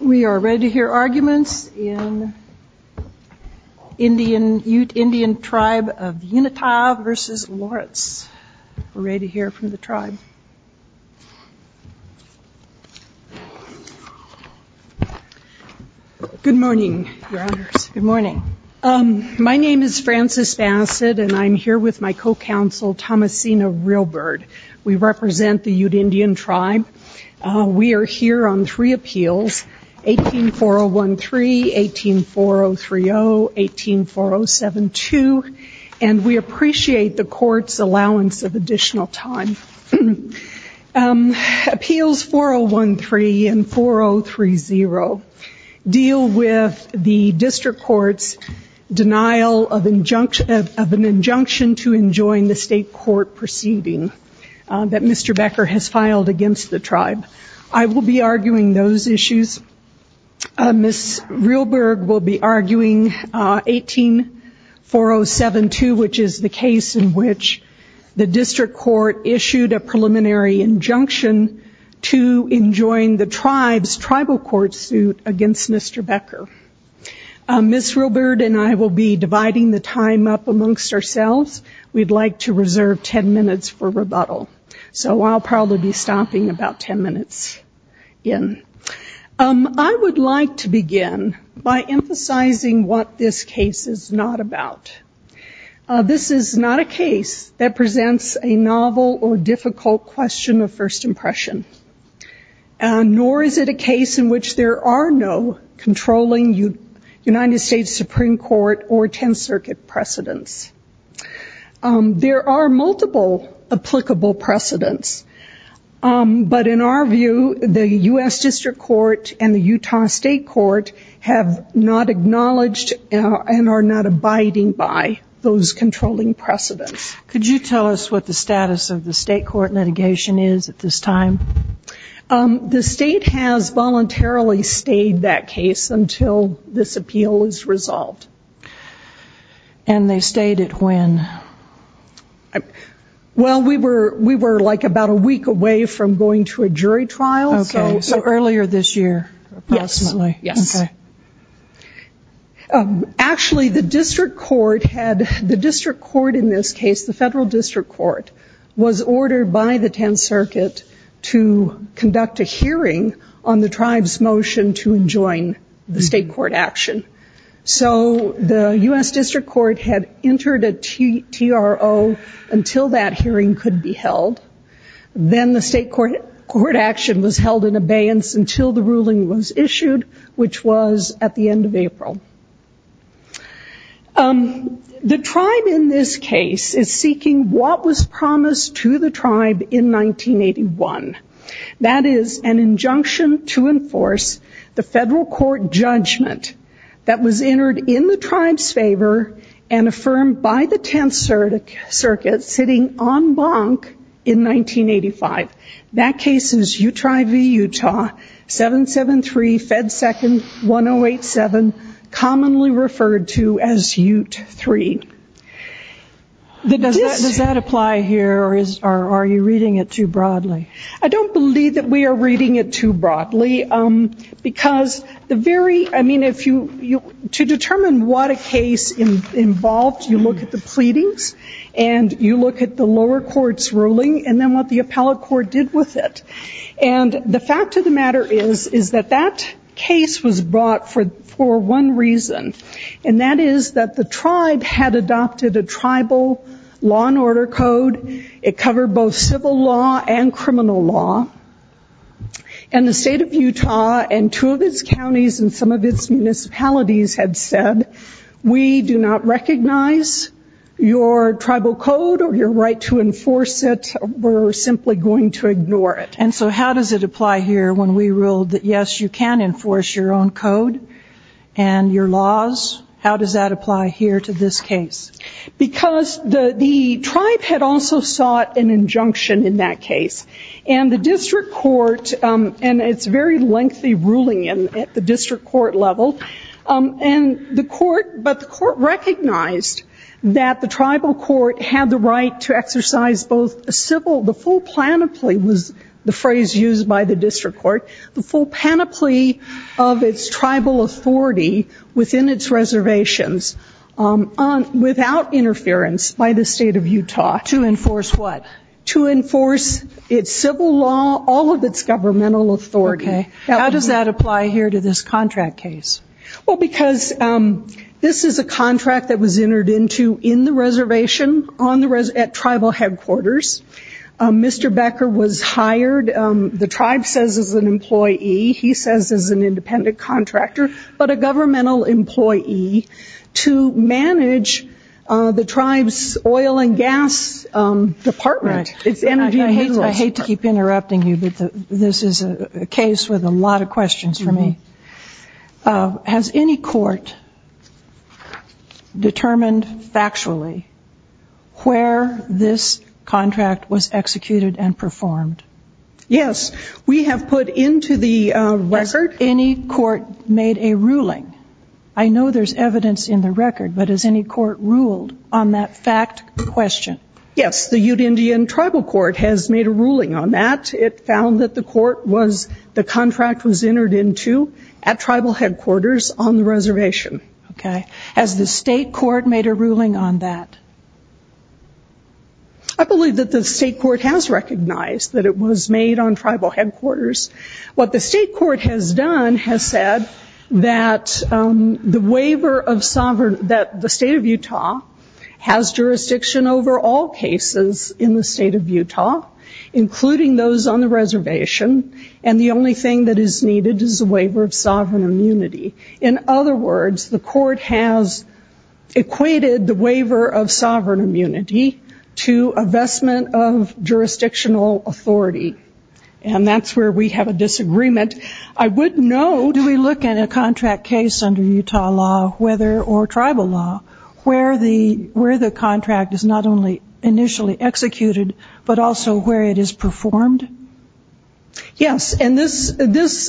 We are ready to hear arguments in Ute Indian Tribe of the Uintah v. Lawrence. We're ready to hear from the tribe. Good morning, Your Honors. Good morning. My name is Frances Bassett, and I'm here with my co-counsel, Thomasina Realbird. We represent the Ute Indian Tribe. We are here on three appeals, 18-4013, 18-4030, 18-4072, and we appreciate the court's allowance of additional time. Appeals 4013 and 4030 deal with the district court's denial of an injunction to enjoin the state court proceeding that Mr. Becker has filed against the tribe. I will be arguing those issues. Ms. Realbird will be arguing 18-4072, which is the case in which the district court issued a preliminary injunction to enjoin the tribe's tribal court suit against Mr. Becker. Ms. Realbird and I will be dividing the time up amongst ourselves. We'd like to reserve 10 minutes for rebuttal. So I'll probably be stopping about 10 minutes in. I would like to begin by emphasizing what this case is not about. This is not a case that presents a novel or difficult question of first impression, nor is it a case in which there are no controlling United States Supreme Court or Tenth Circuit precedents. There are multiple applicable precedents, but in our view, the U.S. District Court and the Utah State Court have not acknowledged and are not abiding by those controlling precedents. Could you tell us what the status of the state court litigation is at this time? The state has voluntarily stayed that case until this appeal is resolved. And they stayed it when? Well, we were like about a week away from going to a jury trial. Okay, so earlier this year, approximately. Yes. Actually, the district court in this case, the federal district court, was ordered by the Tenth Circuit to conduct a hearing on the tribe's motion to enjoin the state court action. So the U.S. District Court had entered a TRO until that hearing could be held. Then the state court action was held in abeyance until the ruling was issued, which was at the end of April. The tribe in this case is seeking what was promised to the tribe in 1981. That is an injunction to enforce the federal court judgment that was entered in the tribe's favor and affirmed by the Tenth Circuit sitting en banc in 1985. That case is Utri v. Utah, 773 Fed 2nd 1087, commonly referred to as UTE 3. Does that apply here or are you reading it too broadly? I don't believe that we are reading it too broadly, because to determine what a case involved, you look at the pleadings and you look at the lower court's ruling and then what the appellate court did with it. And the fact of the matter is that that case was brought for one reason, and that is that the tribe had adopted a tribal law and order code. It covered both civil law and criminal law. And the state of Utah and two of its counties and some of its municipalities had said, we do not recognize your tribal code or your right to enforce it. We're simply going to ignore it. And so how does it apply here when we ruled that, yes, you can enforce your own code and your laws? How does that apply here to this case? Because the tribe had also sought an injunction in that case. And the district court, and it's very lengthy ruling at the district court level, but the court recognized that the tribal court had the right to exercise both a civil, the full panoply was the phrase used by the district court, the full panoply of its tribal authority within its reservations without interference by the state of Utah. To enforce what? To enforce its civil law, all of its governmental authority. Okay. How does that apply here to this contract case? Well, because this is a contract that was entered into in the reservation at tribal headquarters. Mr. Becker was hired, the tribe says, as an employee. He says as an independent contractor, but a governmental employee to manage the tribe's oil and gas department. I hate to keep interrupting you, but this is a case with a lot of questions for me. Has any court determined factually where this contract is going to go? Has any court determined factually where this contract was executed and performed? Yes, we have put into the record. Has any court made a ruling? I know there's evidence in the record, but has any court ruled on that fact question? Yes, the Ute Indian Tribal Court has made a ruling on that. It found that the contract was entered into at tribal headquarters on the reservation. Has the state court made a ruling on that? I believe that the state court has recognized that it was made on tribal headquarters. What the state court has done has said that the waiver of sovereign, that the state of Utah has jurisdiction over all cases in the state of Utah, including those on the reservation, and the only thing that is needed is a waiver of sovereign immunity. In other words, the court has equated the waiver of sovereign immunity to a vestment of jurisdictional authority. And that's where we have a disagreement. Do we look at a contract case under Utah law, whether or tribal law, where the contract is not only initially executed, but also where it is performed? Yes, and this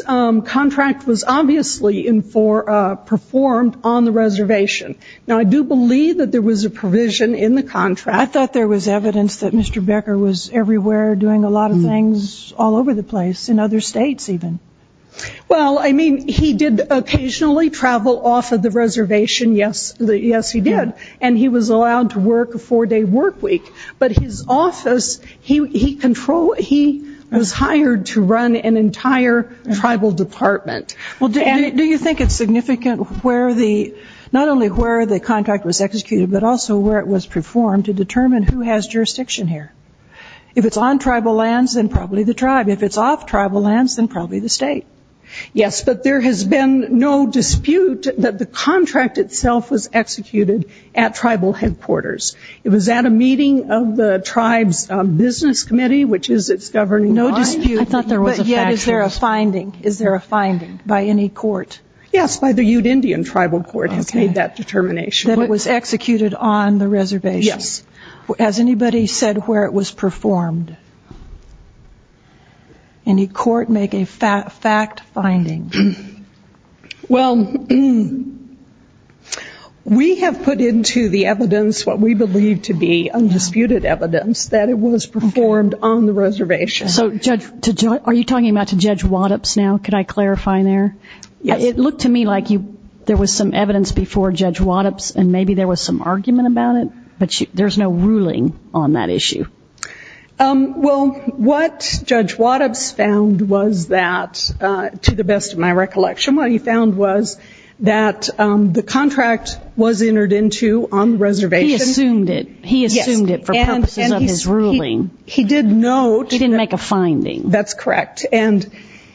contract was obviously performed on the reservation. Now, I do believe that there was a provision in the contract. I thought there was evidence that Mr. Becker was everywhere doing a lot of things all over the place, in other states even. Well, I mean, he did occasionally travel off of the reservation, yes, he did, and he was allowed to work a four-day work week. But his office, he was hired to run an entire tribal department. Well, do you think it's significant where the, not only where the contract was executed, but also where it was performed to determine who has jurisdiction here? If it's on tribal lands, then probably the tribe. If it's off tribal lands, then probably the state. Yes, but there has been no dispute that the contract itself was executed at tribal headquarters. It was at a meeting of the tribe's business committee, which is its governing body. I thought there was a factual. Yes, by the Ute Indian Tribal Court has made that determination. That it was executed on the reservation? Yes. Has anybody said where it was performed? Any court make a fact finding? Well, we have put into the evidence what we believe to be undisputed evidence that it was performed on the reservation. So are you talking about to Judge Waddups now? Could I clarify there? Yes. It looked to me like there was some evidence before Judge Waddups and maybe there was some argument about it, but there's no ruling on that issue. Well, what Judge Waddups found was that, to the best of my recollection, what he found was that the contract was entered into on the reservation. He assumed it. He assumed it for purposes of his ruling. He didn't make a finding. That's correct. And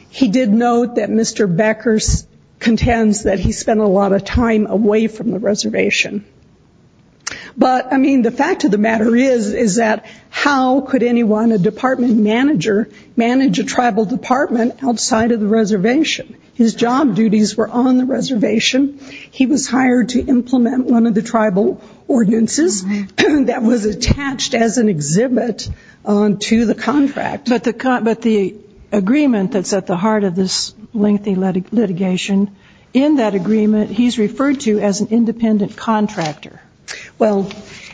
he did note that Mr. Beckers contends that he spent a lot of time away from the reservation. But, I mean, the fact of the matter is that how could anyone, a department manager, manage a tribal department outside of the reservation? His job duties were on the reservation. He was hired to implement one of the tribal ordinances that was attached as an exhibit to the contract. And in the agreement that's at the heart of this lengthy litigation, in that agreement he's referred to as an independent contractor.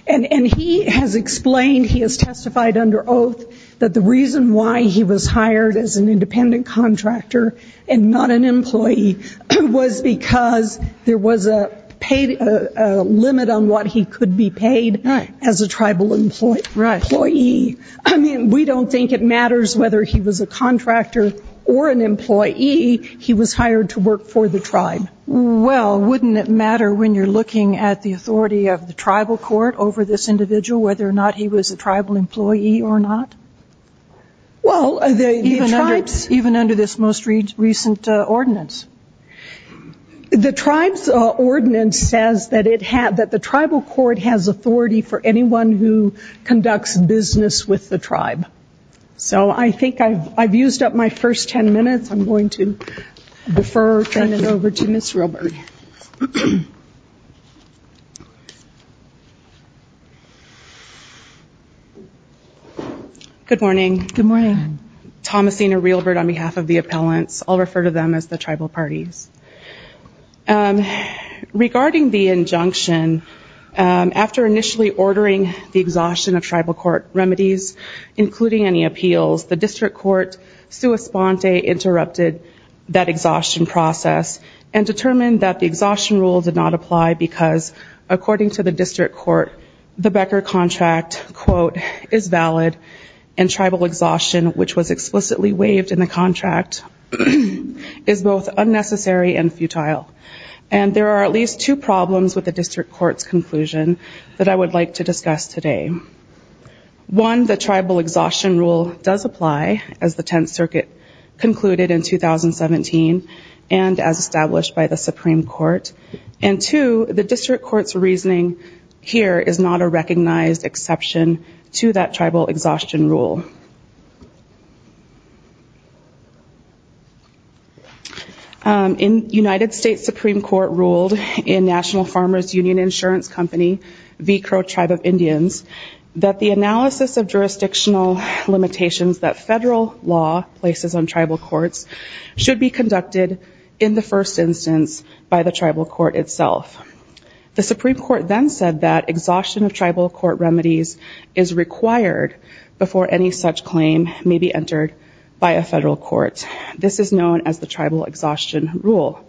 And he has explained, he has testified under oath, that the reason why he was hired as an independent contractor and not an employee was because there was a limit on what he could be paid as a tribal employee. I mean, we don't think it matters whether he was a contractor or an employee. He was hired to work for the tribe. Well, wouldn't it matter when you're looking at the authority of the tribal court over this individual, whether or not he was a tribal employee or not? Even under this most recent ordinance. The tribe's ordinance says that the tribal court has authority for anyone who conducts business with the tribe. So I think I've used up my first 10 minutes. I'm going to defer, turn it over to Ms. Reilbert. Good morning. Thomasina Reilbert on behalf of the appellants. I'll refer to them as the tribal parties. Regarding the injunction, after initially ordering the exhaustion of tribal court remedies, including any appeals, the district court sua sponte interrupted that exhaustion process and determined that the exhaustion rule did not apply because, according to the district court, the Becker contract, quote, is valid and tribal exhaustion, which was explicitly waived in the contract, is both unnecessary and futile. And there are at least two problems with the district court's conclusion that I would like to discuss today. One, the tribal exhaustion rule does apply, as the Tenth Circuit concluded in 2017 and as established by the Supreme Court. And two, the district court's reasoning here is not a recognized exception to that tribal exhaustion rule. In United States Supreme Court ruled in National Farmers Union Insurance Company, V. Crow Tribe of Indians, that the analysis of jurisdictional limitations that federal law places on tribal courts should be conducted in the first instance by the tribal court itself. The Supreme Court then said that exhaustion of tribal court remedies is required before any such claim may be entered by a federal court. This is known as the tribal exhaustion rule.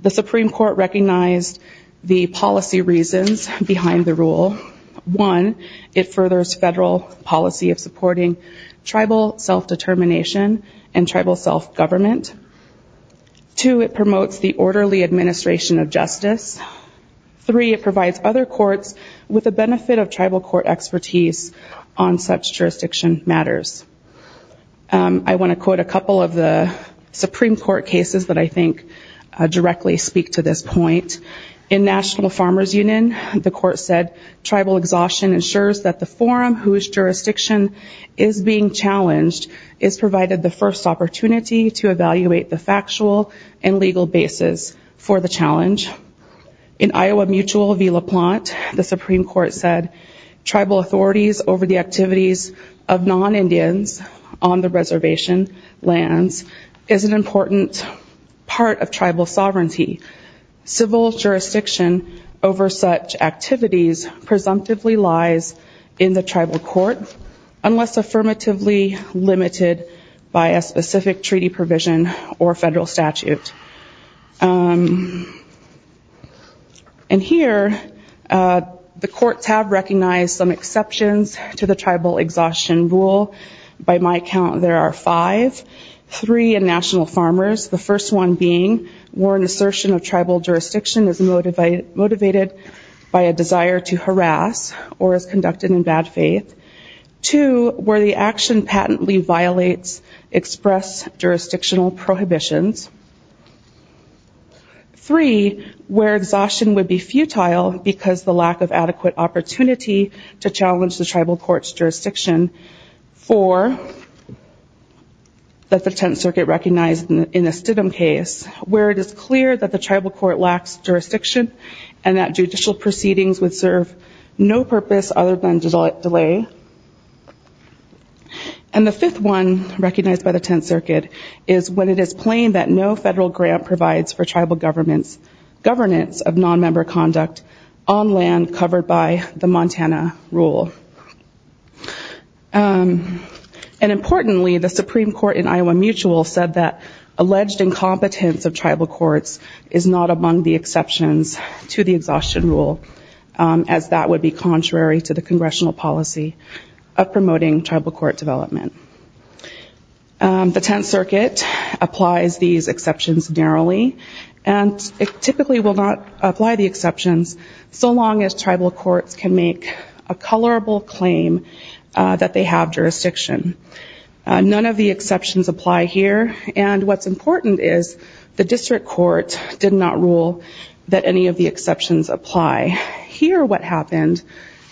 The Supreme Court recognized the policy reasons behind the rule. One, it furthers federal policy of supporting tribal self-determination and tribal self-government. Two, it promotes the orderly administration of justice. Three, it provides other courts with the benefit of tribal court expertise on such jurisdiction matters. I want to quote a couple of the Supreme Court cases that I think directly speak to this point. In National Farmers Union, the court said tribal exhaustion ensures that the forum whose jurisdiction is being challenged is provided the first opportunity to evaluate the factual and legal basis for the challenge. In Iowa Mutual v. LaPlante, the Supreme Court said tribal authorities over the activities of non-Indians on the reservation lands is an important part of tribal sovereignty. Civil jurisdiction over such activities presumptively lies in the tribal court unless affirmatively limited by a specific treaty provision or federal statute. And here, the courts have recognized some exceptions to the tribal exhaustion rule. By my count, there are five. Three in National Farmers, the first one being where an assertion of tribal jurisdiction is motivated by a desire to harass or is conducted in bad faith. Two, where the action patently violates express jurisdictional prohibitions. Three, where exhaustion would be futile because the lack of adequate opportunity to challenge the tribal court's jurisdiction. That's the Tenth Circuit recognized in the Stidham case, where it is clear that the tribal court lacks jurisdiction and that judicial proceedings would serve no purpose other than delay. And the fifth one, recognized by the Tenth Circuit, is when it is plain that no federal grant provides for tribal governments' of non-member conduct on land covered by the Montana rule. And importantly, the Supreme Court in Iowa Mutual said that alleged incompetence of tribal courts is not among the exceptions to the exhaustion rule, as that would be contrary to the congressional policy of promoting tribal court development. The Tenth Circuit applies these exceptions narrowly, and it typically will not apply the exceptions so long as tribal courts can make a colorable claim that they have jurisdiction. None of the exceptions apply here, and what's important is the district court did not rule that any of the exceptions apply. Here what happened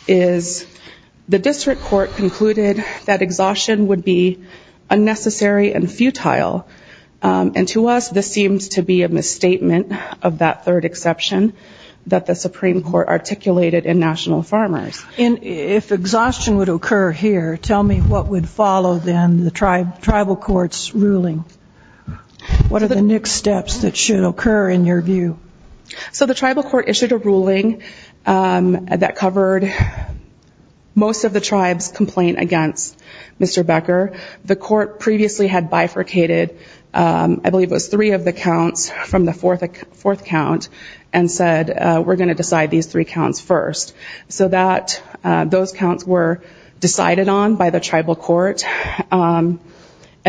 is the district court concluded that exhaustion would be unnecessary and futile, and to us this seems to be a misstatement of that third exception that the Supreme Court articulated in National Farmers. And if exhaustion would occur here, tell me what would follow then the tribal court's ruling? What are the next steps that should occur in your view? So the tribal court issued a ruling that covered most of the tribe's complaint against Mr. Becker. The court previously had bifurcated, I believe it was three of the counts from the fourth count, and said we're going to decide these three counts first. So those counts were decided on by the tribal court, and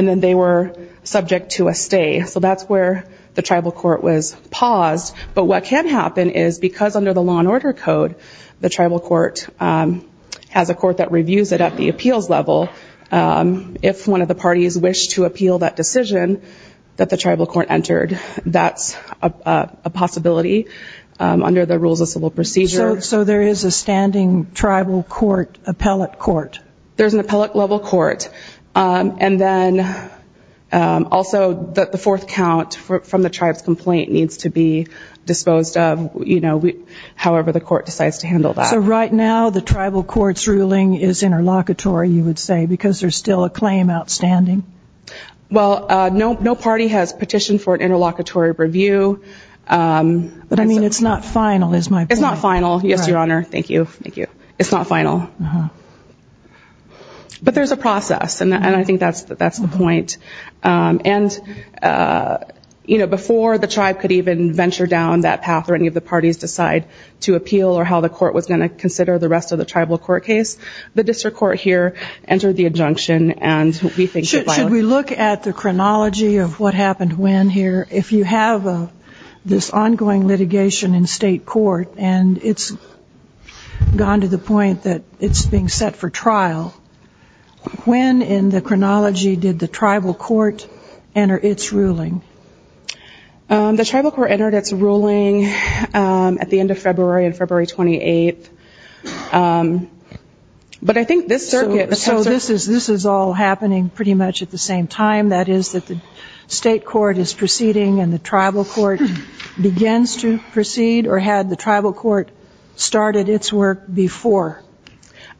then they were subject to a stay. So that's where the tribal court was paused, but what can happen is because under the law and order code, the tribal court has a court that reviews it at the appeals level. If one of the parties wished to appeal that decision that the tribal court entered, that's a possibility under the rules of civil procedure. So there is a standing tribal court appellate court? There's an appellate level court. And then also the fourth count from the tribe's complaint needs to be disposed of, however the court decides to handle that. So right now the tribal court's ruling is interlocutory, you would say, because there's still a claim outstanding? Well, no party has petitioned for an interlocutory review. But I mean, it's not final is my point. It's not final, yes, Your Honor. Thank you. Thank you. It's not final. But there's a process, and I think that's the point. And, you know, before the tribe could even venture down that path or any of the parties decide to appeal or how the court was going to consider the rest of the tribal court case, the district court here entered the injunction and we think it violated it. Should we look at the chronology of what happened when here? If you have this ongoing litigation in state court, and it's gone to the point that it's being set for trial, when in the chronology did the tribal court enter its ruling? The tribal court entered its ruling at the end of February, on February 28th. But I think this circuit... So this is all happening pretty much at the same time, that is that the state court is proceeding and the tribal court begins to proceed, or had the tribal court started its work before?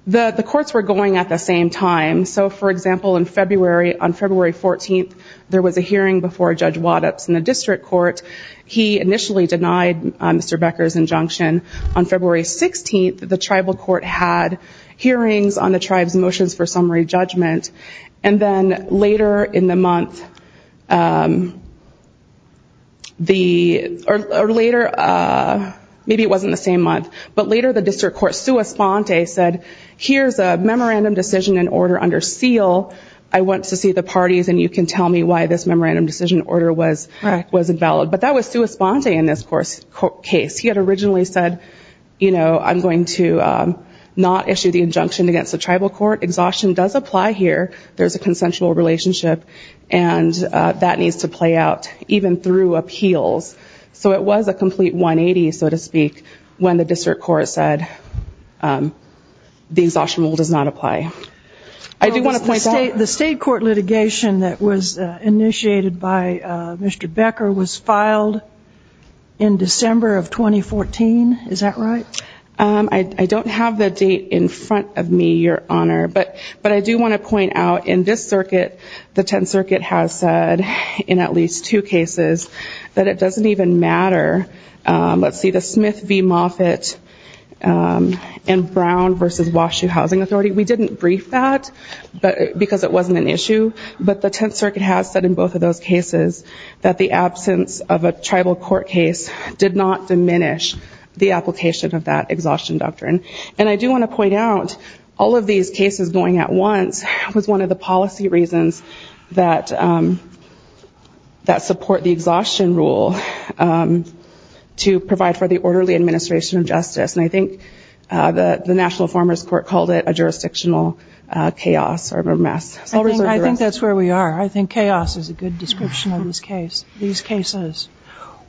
The courts were going at the same time. So, for example, in February, on February 14th, there was a hearing before Judge Waddups in the district court. He initially denied Mr. Becker's injunction. On February 16th, the tribal court had hearings on the tribe's motions for summary judgment. And then later in the month, or later, maybe it wasn't the same month, but later the district court sua sponte said, here's a memorandum decision and order under seal. I want to see the parties, and you can tell me why this memorandum decision order was invalid. But that was sua sponte in this case. He had originally said, I'm going to not issue the injunction against the tribal court. Exhaustion does apply here. There's a consensual relationship, and that needs to play out, even through appeals. So it was a complete 180, so to speak, when the district court said the exhaustion rule does not apply. I do want to point out- The state court litigation that was initiated by Mr. Becker was filed in December of 2014. Is that right? I don't have the date in front of me, Your Honor. The Tenth Circuit has said in at least two cases that it doesn't even matter. Let's see, the Smith v. Moffitt and Brown v. Wash U Housing Authority, we didn't brief that because it wasn't an issue. But the Tenth Circuit has said in both of those cases that the absence of a tribal court case did not diminish the application of that exhaustion doctrine. And I do want to point out, all of these cases going at once was one of the policy reasons that support the exhaustion rule to provide for the orderly administration of justice. And I think the National Informers Court called it a jurisdictional chaos or mess. I think that's where we are. I think chaos is a good description of these cases.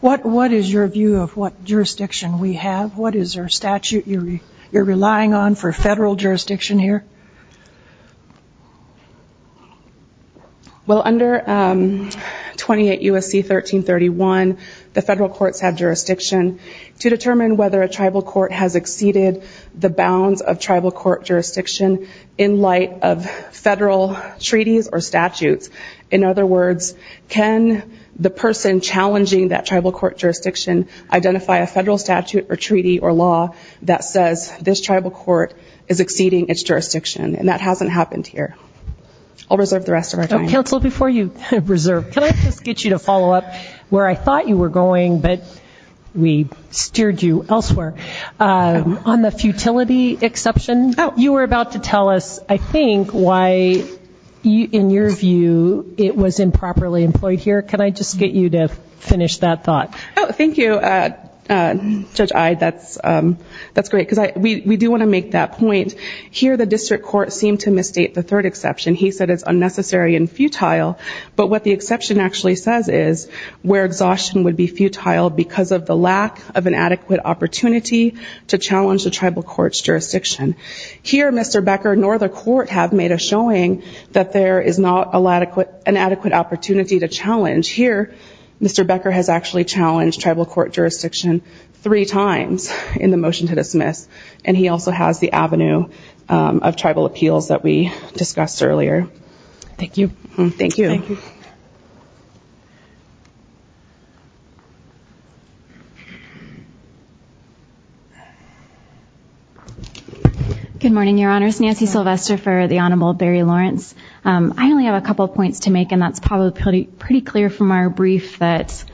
What is your view of what jurisdiction we have? What is our statute you're relying on for federal jurisdiction here? Well, under 28 U.S.C. 1331, the federal courts have jurisdiction to determine whether a tribal court has exceeded the bounds of tribal court jurisdiction in light of federal treaties or statutes. In other words, can the person challenging that tribal court jurisdiction identify a federal statute or treaty or law that says this tribal court is exceeding its jurisdiction? And that hasn't happened here. I'll reserve the rest of our time. Counsel, before you reserve, can I just get you to follow up where I thought you were going, but we steered you elsewhere. On the futility exception, you were about to tell us, I think, why, in your view, it was improperly employed here. Can I just get you to finish that thought? Oh, thank you, Judge Eyde. That's great, because we do want to make that point. Here the district court seemed to misstate the third exception. He said it's unnecessary and futile. But what the exception actually says is where exhaustion would be futile because of the lack of an adequate opportunity to challenge the tribal court's jurisdiction. Here, Mr. Becker nor the court have made a showing that there is not an adequate opportunity to challenge. Here, Mr. Becker has actually challenged tribal court jurisdiction three times in the motion to dismiss, and he also has the avenue of tribal appeals that we discussed earlier. Thank you. Thank you. Thank you. Good morning, Your Honors. Nancy Sylvester for the Honorable Barry Lawrence. I only have a couple of points to make, and that's probably pretty clear from our brief that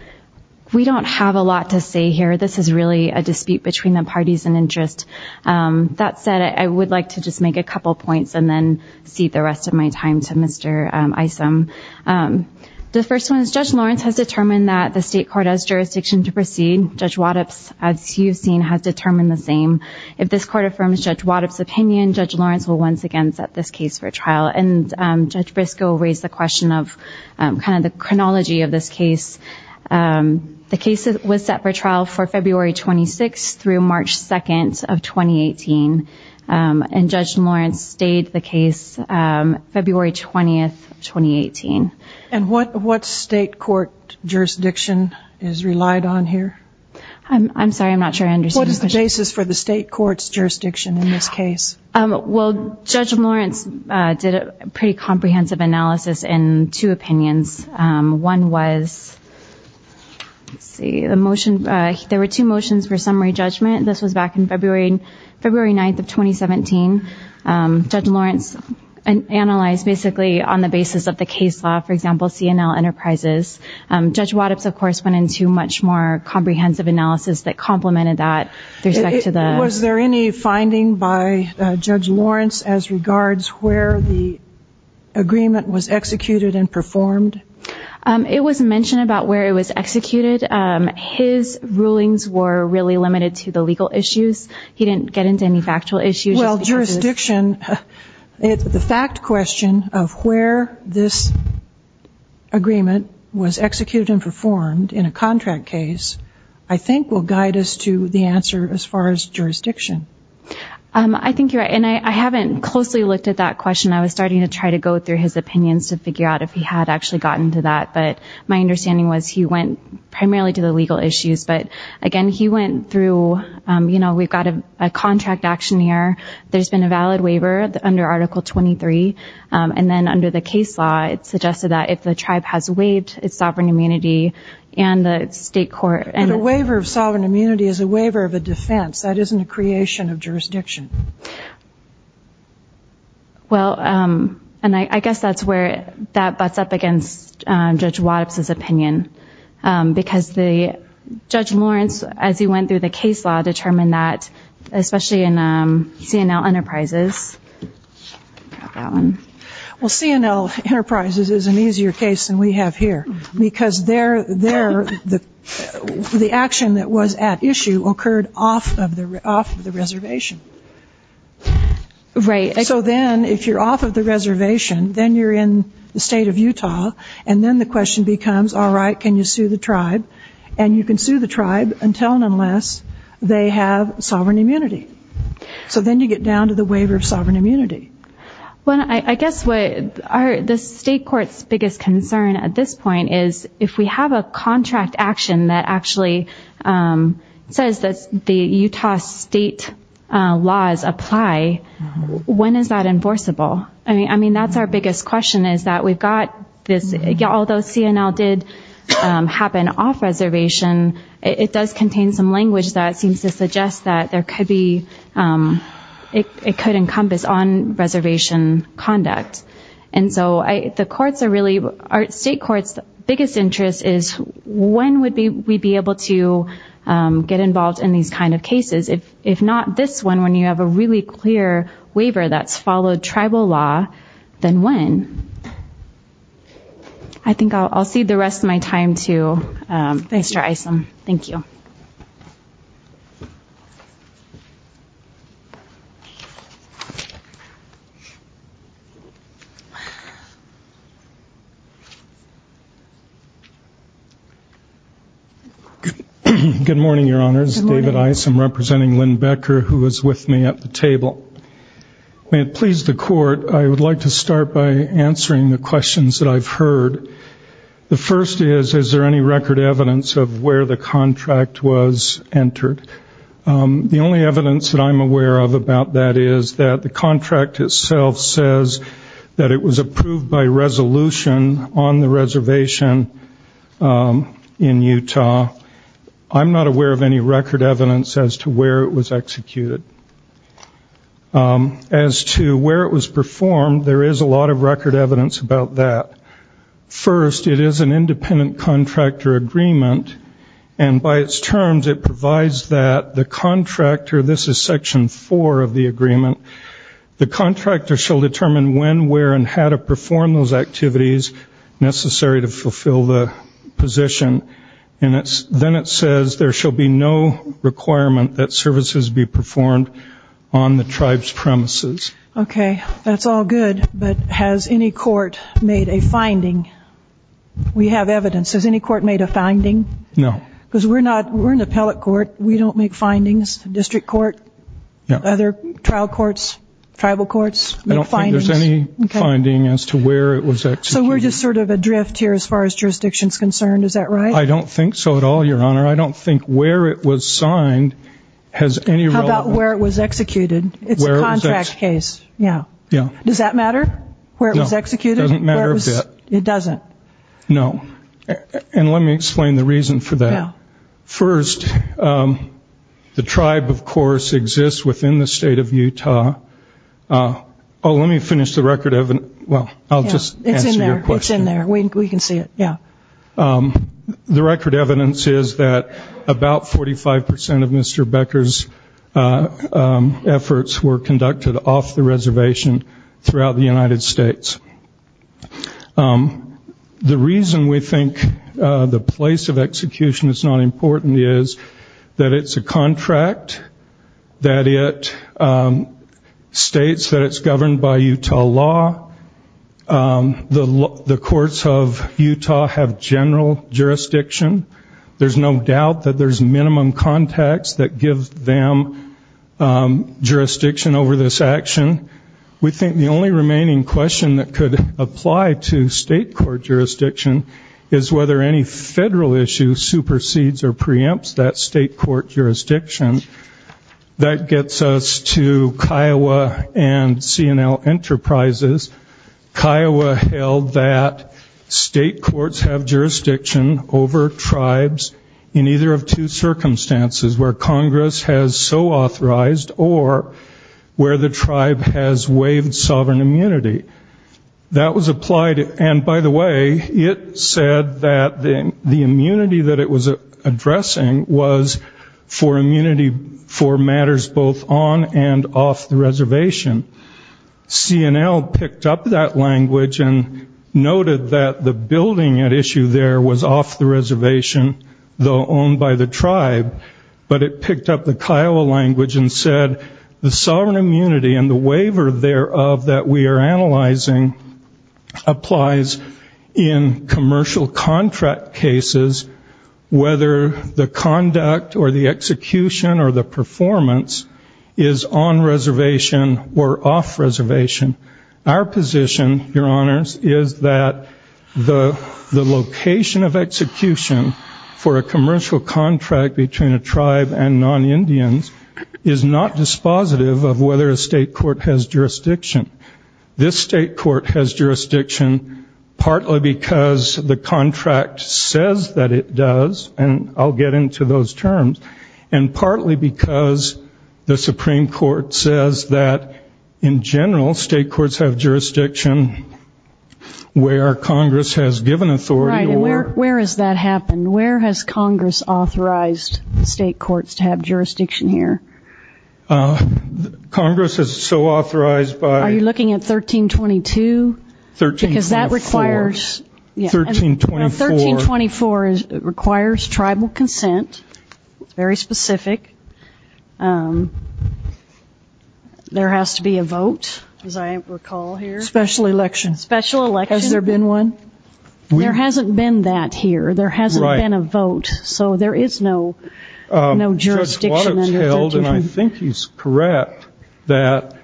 we don't have a lot to say here. This is really a dispute between the parties in interest. That said, I would like to just make a couple of points and then cede the rest of my time to Mr. Isom. The first one is Judge Lawrence has determined that the state court has jurisdiction to proceed. Judge Waddup, as you've seen, has determined the same. If this court affirms Judge Waddup's opinion, Judge Lawrence will once again set this case for trial. And Judge Briscoe raised the question of kind of the chronology of this case. The case was set for trial for February 26th through March 2nd of 2018, and Judge Lawrence stayed the case February 20th of 2018. And what state court jurisdiction is relied on here? I'm sorry, I'm not sure I understood. What is the basis for the state court's jurisdiction in this case? Well, Judge Lawrence did a pretty comprehensive analysis in two opinions. One was, let's see, there were two motions for summary judgment. This was back in February 9th of 2017. Judge Lawrence analyzed basically on the basis of the case law, for example, C&L Enterprises. Judge Waddup, of course, went into much more comprehensive analysis that complemented that. Was there any finding by Judge Lawrence as regards where the agreement was executed and performed? It was mentioned about where it was executed. His rulings were really limited to the legal issues. He didn't get into any factual issues. Well, jurisdiction, the fact question of where this agreement was executed and performed in a contract case, I think will guide us to the answer as far as jurisdiction. I think you're right. And I haven't closely looked at that question. I was starting to try to go through his opinions to figure out if he had actually gotten to that. But my understanding was he went primarily to the legal issues. But, again, he went through, you know, we've got a contract action here. There's been a valid waiver under Article 23. And then under the case law it suggested that if the tribe has waived its sovereign immunity and the state court. But a waiver of sovereign immunity is a waiver of a defense. That isn't a creation of jurisdiction. Well, and I guess that's where that butts up against Judge Waddup's opinion. Because Judge Lawrence, as he went through the case law, determined that, especially in C&L Enterprises. Well, C&L Enterprises is an easier case than we have here. Because the action that was at issue occurred off of the reservation. Right. So then if you're off of the reservation, then you're in the state of Utah. And then the question becomes, all right, can you sue the tribe? And you can sue the tribe until and unless they have sovereign immunity. So then you get down to the waiver of sovereign immunity. Well, I guess what the state court's biggest concern at this point is, if we have a contract action that actually says that the Utah state laws apply, when is that enforceable? I mean, that's our biggest question, is that we've got this, although C&L did happen off reservation, it does contain some language that seems to suggest that there could be, it could encompass on-reservation conduct. And so the courts are really, our state court's biggest interest is, when would we be able to get involved in these kind of cases? If not this one, when you have a really clear waiver that's followed tribal law, then when? I think I'll cede the rest of my time to Mr. Isom. Thank you. Good morning, Your Honors. David Isom, representing Lynn Becker, who is with me at the table. May it please the court, I would like to start by answering the questions that I've heard. The first is, is there any record evidence of where the contract was entered? The only evidence that I'm aware of about that is that the contract itself says that it was approved by resolution on the reservation in Utah. I'm not aware of any record evidence as to where it was executed. As to where it was performed, there is a lot of record evidence about that. First, it is an independent contractor agreement, and by its terms it provides that the contractor, this is Section 4 of the agreement, the contractor shall determine when, where, and how to perform those activities necessary to fulfill the position. Then it says there shall be no requirement that services be performed on the tribe's premises. Okay, that's all good, but has any court made a finding? We have evidence. Has any court made a finding? No. Because we're not, we're an appellate court. We don't make findings. District court, other trial courts, tribal courts make findings. I don't think there's any finding as to where it was executed. So we're just sort of adrift here as far as jurisdiction is concerned, is that right? I don't think so at all, Your Honor. I don't think where it was signed has any relevance. How about where it was executed? It's a contract case. Yeah. Yeah. Does that matter, where it was executed? No, it doesn't matter a bit. It doesn't? No. And let me explain the reason for that. First, the tribe, of course, exists within the state of Utah. Oh, let me finish the record of, well, I'll just answer your question. It's in there. It's in there. We can see it. Yeah. The record evidence is that about 45 percent of Mr. Becker's efforts were conducted off the reservation throughout the United States. The reason we think the place of execution is not important is that it's a contract, that it states that it's governed by Utah law. The courts of Utah have general jurisdiction. There's no doubt that there's minimum context that gives them jurisdiction over this action. We think the only remaining question that could apply to state court jurisdiction is whether any federal issue supersedes or preempts that state court jurisdiction. That gets us to Kiowa and C&L Enterprises. Kiowa held that state courts have jurisdiction over tribes in either of two circumstances, where Congress has so authorized or where the tribe has waived sovereign immunity. That was applied. And, by the way, it said that the immunity that it was addressing was for immunity for matters both on and off the reservation. C&L picked up that language and noted that the building at issue there was off the reservation, though owned by the tribe. But it picked up the Kiowa language and said, the sovereign immunity and the waiver thereof that we are analyzing applies in commercial contract cases, whether the conduct or the execution or the performance is on reservation or off reservation. Our position, Your Honors, is that the location of execution for a commercial contract between a tribe and non-Indians is not dispositive of whether a state court has jurisdiction. This state court has jurisdiction partly because the contract says that it does, and I'll get into those terms, and partly because the Supreme Court says that, in general, state courts have jurisdiction where Congress has given authority to work. Where has that happened? Where has Congress authorized the state courts to have jurisdiction here? Congress has so authorized by 1324. Are you looking at 1322? Because that requires tribal consent. It's very specific. There has to be a vote, as I recall here. Special election. Special election. Has there been one? Well, there hasn't been that here. There hasn't been a vote. So there is no jurisdiction under 1322. Judge Waddup's held, and I think he's correct, that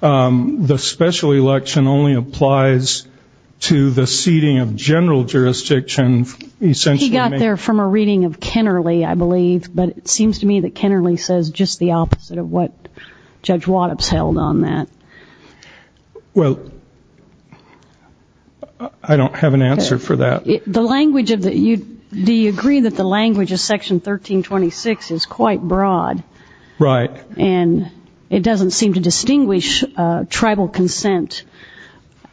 the special election only applies to the seating of general jurisdiction. He got there from a reading of Kennerly, I believe, but it seems to me that Kennerly says just the opposite of what Judge Waddup's held on that. Well, I don't have an answer for that. Do you agree that the language of Section 1326 is quite broad? Right. And it doesn't seem to distinguish tribal consent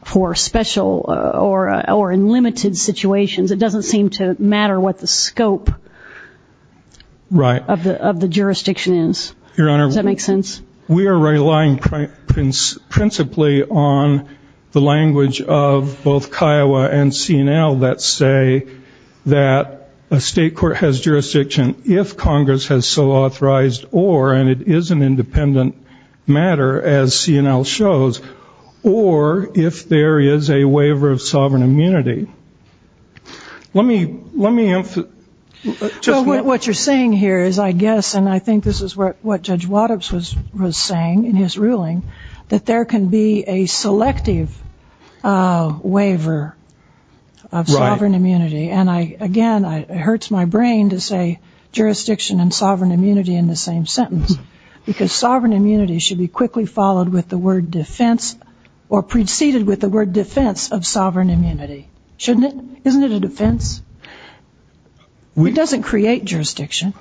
for special or in limited situations. It doesn't seem to matter what the scope of the jurisdiction is. Right. Does that make sense? We are relying principally on the language of both Kiowa and C&L that say that a state court has jurisdiction if Congress has so authorized or, and it is an independent matter, as C&L shows, or if there is a waiver of sovereign immunity. Well, what you're saying here is, I guess, and I think this is what Judge Waddup's was saying in his ruling, that there can be a selective waiver of sovereign immunity. And, again, it hurts my brain to say jurisdiction and sovereign immunity in the same sentence, because sovereign immunity should be quickly followed with the word defense or preceded with the word defense of Shouldn't it? Isn't it a defense? It doesn't create jurisdiction.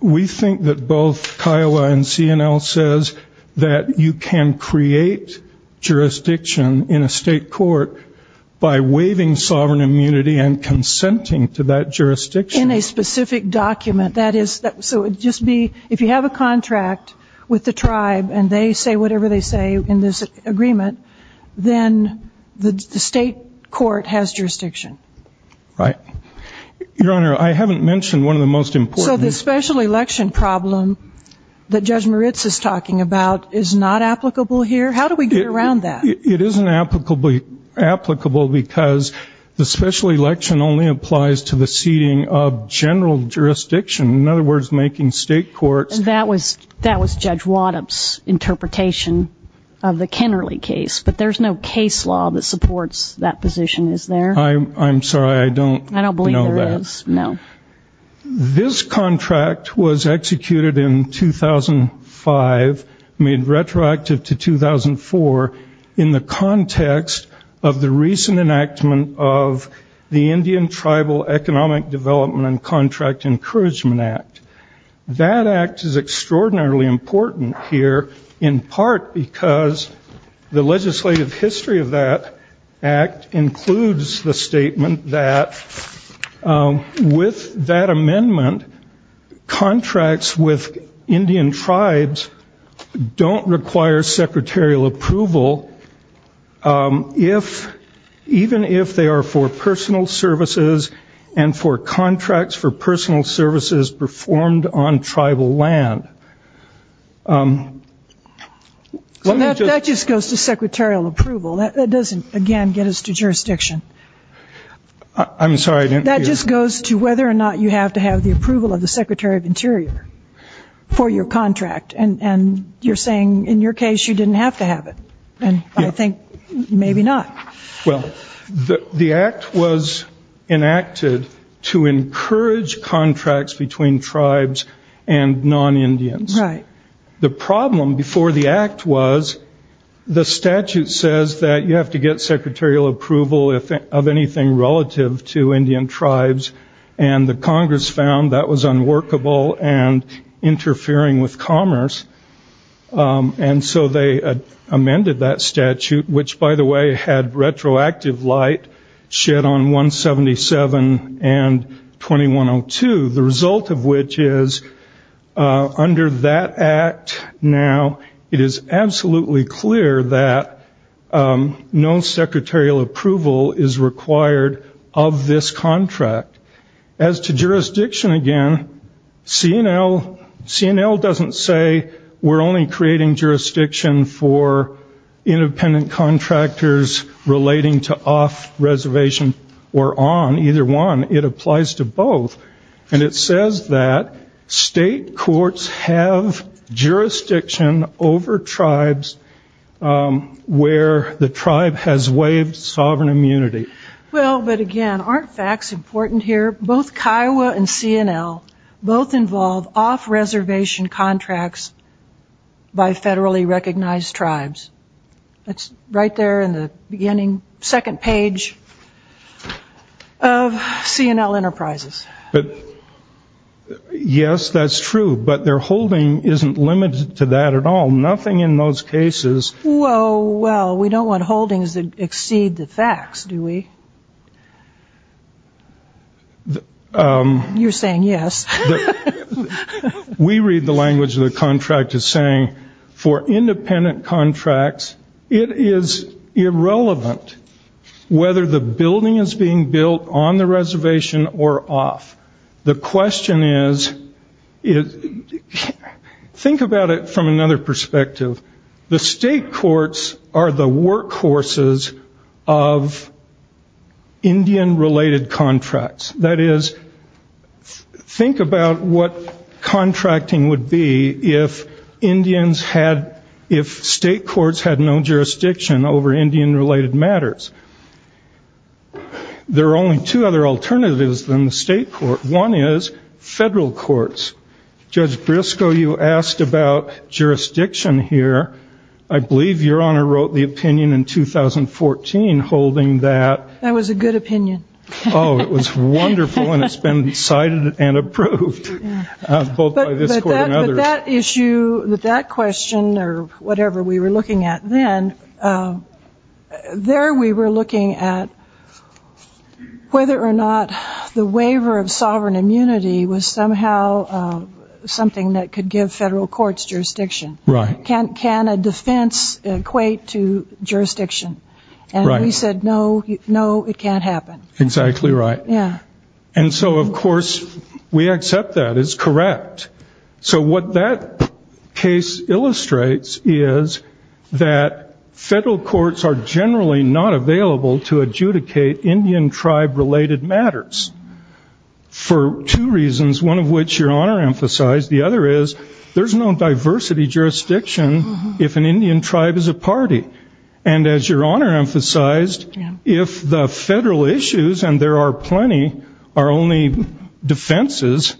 We think that both Kiowa and C&L says that you can create jurisdiction in a state court by waiving sovereign immunity and consenting to that jurisdiction. In a specific document, that is, so it would just be, if you have a contract with the tribe and they say whatever they say in this agreement, then the state court has jurisdiction. Right. Your Honor, I haven't mentioned one of the most important So the special election problem that Judge Moritz is talking about is not applicable here? How do we get around that? It isn't applicable because the special election only applies to the seating of general jurisdiction. In other words, making state courts That was Judge Waddup's interpretation of the Kennerly case, but there's no case law that supports that position, is there? I'm sorry, I don't know that. I don't believe there is, no. This contract was executed in 2005, made retroactive to 2004, in the context of the recent enactment of the Indian Tribal Economic Development and Contract Encouragement Act. That act is extraordinarily important here, in part because the legislative history of that act includes the statement that with that amendment, contracts with Indian tribes don't require secretarial approval, even if they are for personal services and for contracts for personal services performed on tribal land. That just goes to secretarial approval. That doesn't, again, get us to jurisdiction. I'm sorry, I didn't hear you. That just goes to whether or not you have to have the approval of the Secretary of Interior for your contract. And you're saying in your case you didn't have to have it, and I think maybe not. Well, the act was enacted to encourage contracts between tribes and non-Indians. Right. The problem before the act was the statute says that you have to get secretarial approval of anything relative to Indian tribes, and the Congress found that was unworkable and interfering with commerce. And so they amended that statute, which, by the way, had retroactive light shed on 177 and 2102, the result of which is under that act now it is absolutely clear that no secretarial approval is required of this contract. As to jurisdiction, again, C&L doesn't say we're only creating jurisdiction for independent contractors relating to off-reservation or on. Either one, it applies to both. And it says that state courts have jurisdiction over tribes where the tribe has waived sovereign immunity. Well, but, again, aren't facts important here? Both Kiowa and C&L both involve off-reservation contracts by federally recognized tribes. That's right there in the beginning, second page of C&L Enterprises. But, yes, that's true, but their holding isn't limited to that at all. Nothing in those cases. Well, we don't want holdings that exceed the facts, do we? You're saying yes. We read the language of the contract as saying for independent contracts it is irrelevant whether the building is being built on the reservation or off. The question is, think about it from another perspective. The state courts are the workhorses of Indian-related contracts. That is, think about what contracting would be if state courts had no jurisdiction over Indian-related matters. There are only two other alternatives than the state court. One is federal courts. Judge Briscoe, you asked about jurisdiction here. I believe Your Honor wrote the opinion in 2014 holding that. That was a good opinion. Oh, it was wonderful, and it's been cited and approved both by this court and others. But that issue, that question or whatever we were looking at then, there we were looking at whether or not the waiver of sovereign immunity was somehow something that could give federal courts jurisdiction. Right. Can a defense equate to jurisdiction? Right. We said, no, it can't happen. Exactly right. Yeah. And so, of course, we accept that. It's correct. So what that case illustrates is that federal courts are generally not available to adjudicate Indian tribe-related matters for two reasons, one of which Your Honor emphasized. The other is there's no diversity jurisdiction if an Indian tribe is a party. And as Your Honor emphasized, if the federal issues, and there are plenty, are only defenses,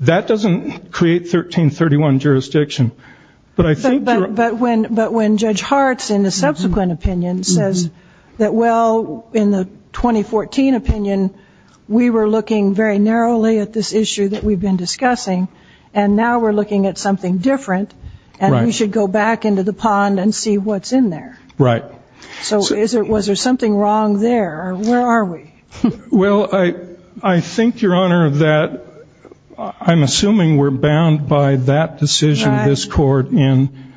that doesn't create 1331 jurisdiction. But when Judge Hartz in the subsequent opinion says that, well, in the 2014 opinion, we were looking very narrowly at this issue that we've been discussing, and now we're looking at something different, and we should go back into the pond and see what's in there. Right. So was there something wrong there, or where are we? Well, I think, Your Honor, that I'm assuming we're bound by that decision of this court in,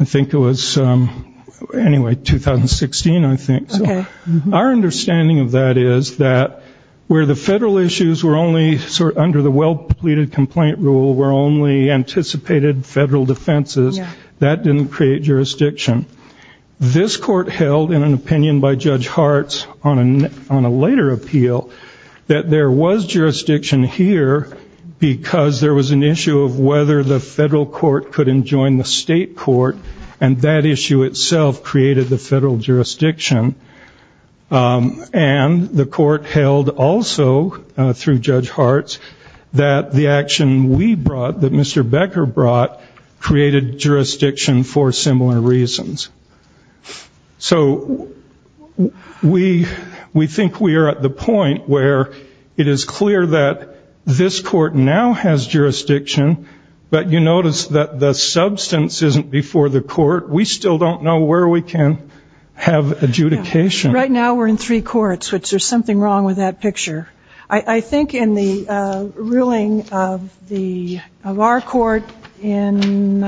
I think it was, anyway, 2016, I think. Okay. Our understanding of that is that where the federal issues were only sort of under the well-completed complaint rule were only anticipated federal defenses, that didn't create jurisdiction. This court held in an opinion by Judge Hartz on a later appeal that there was jurisdiction here because there was an issue of whether the federal court could enjoin the state court, and that issue itself created the federal jurisdiction. And the court held also through Judge Hartz that the action we brought, that Mr. Becker brought, created jurisdiction for similar reasons. So we think we are at the point where it is clear that this court now has jurisdiction, but you notice that the substance isn't before the court. We still don't know where we can have adjudication. Right now we're in three courts, which there's something wrong with that picture. I think in the ruling of our court in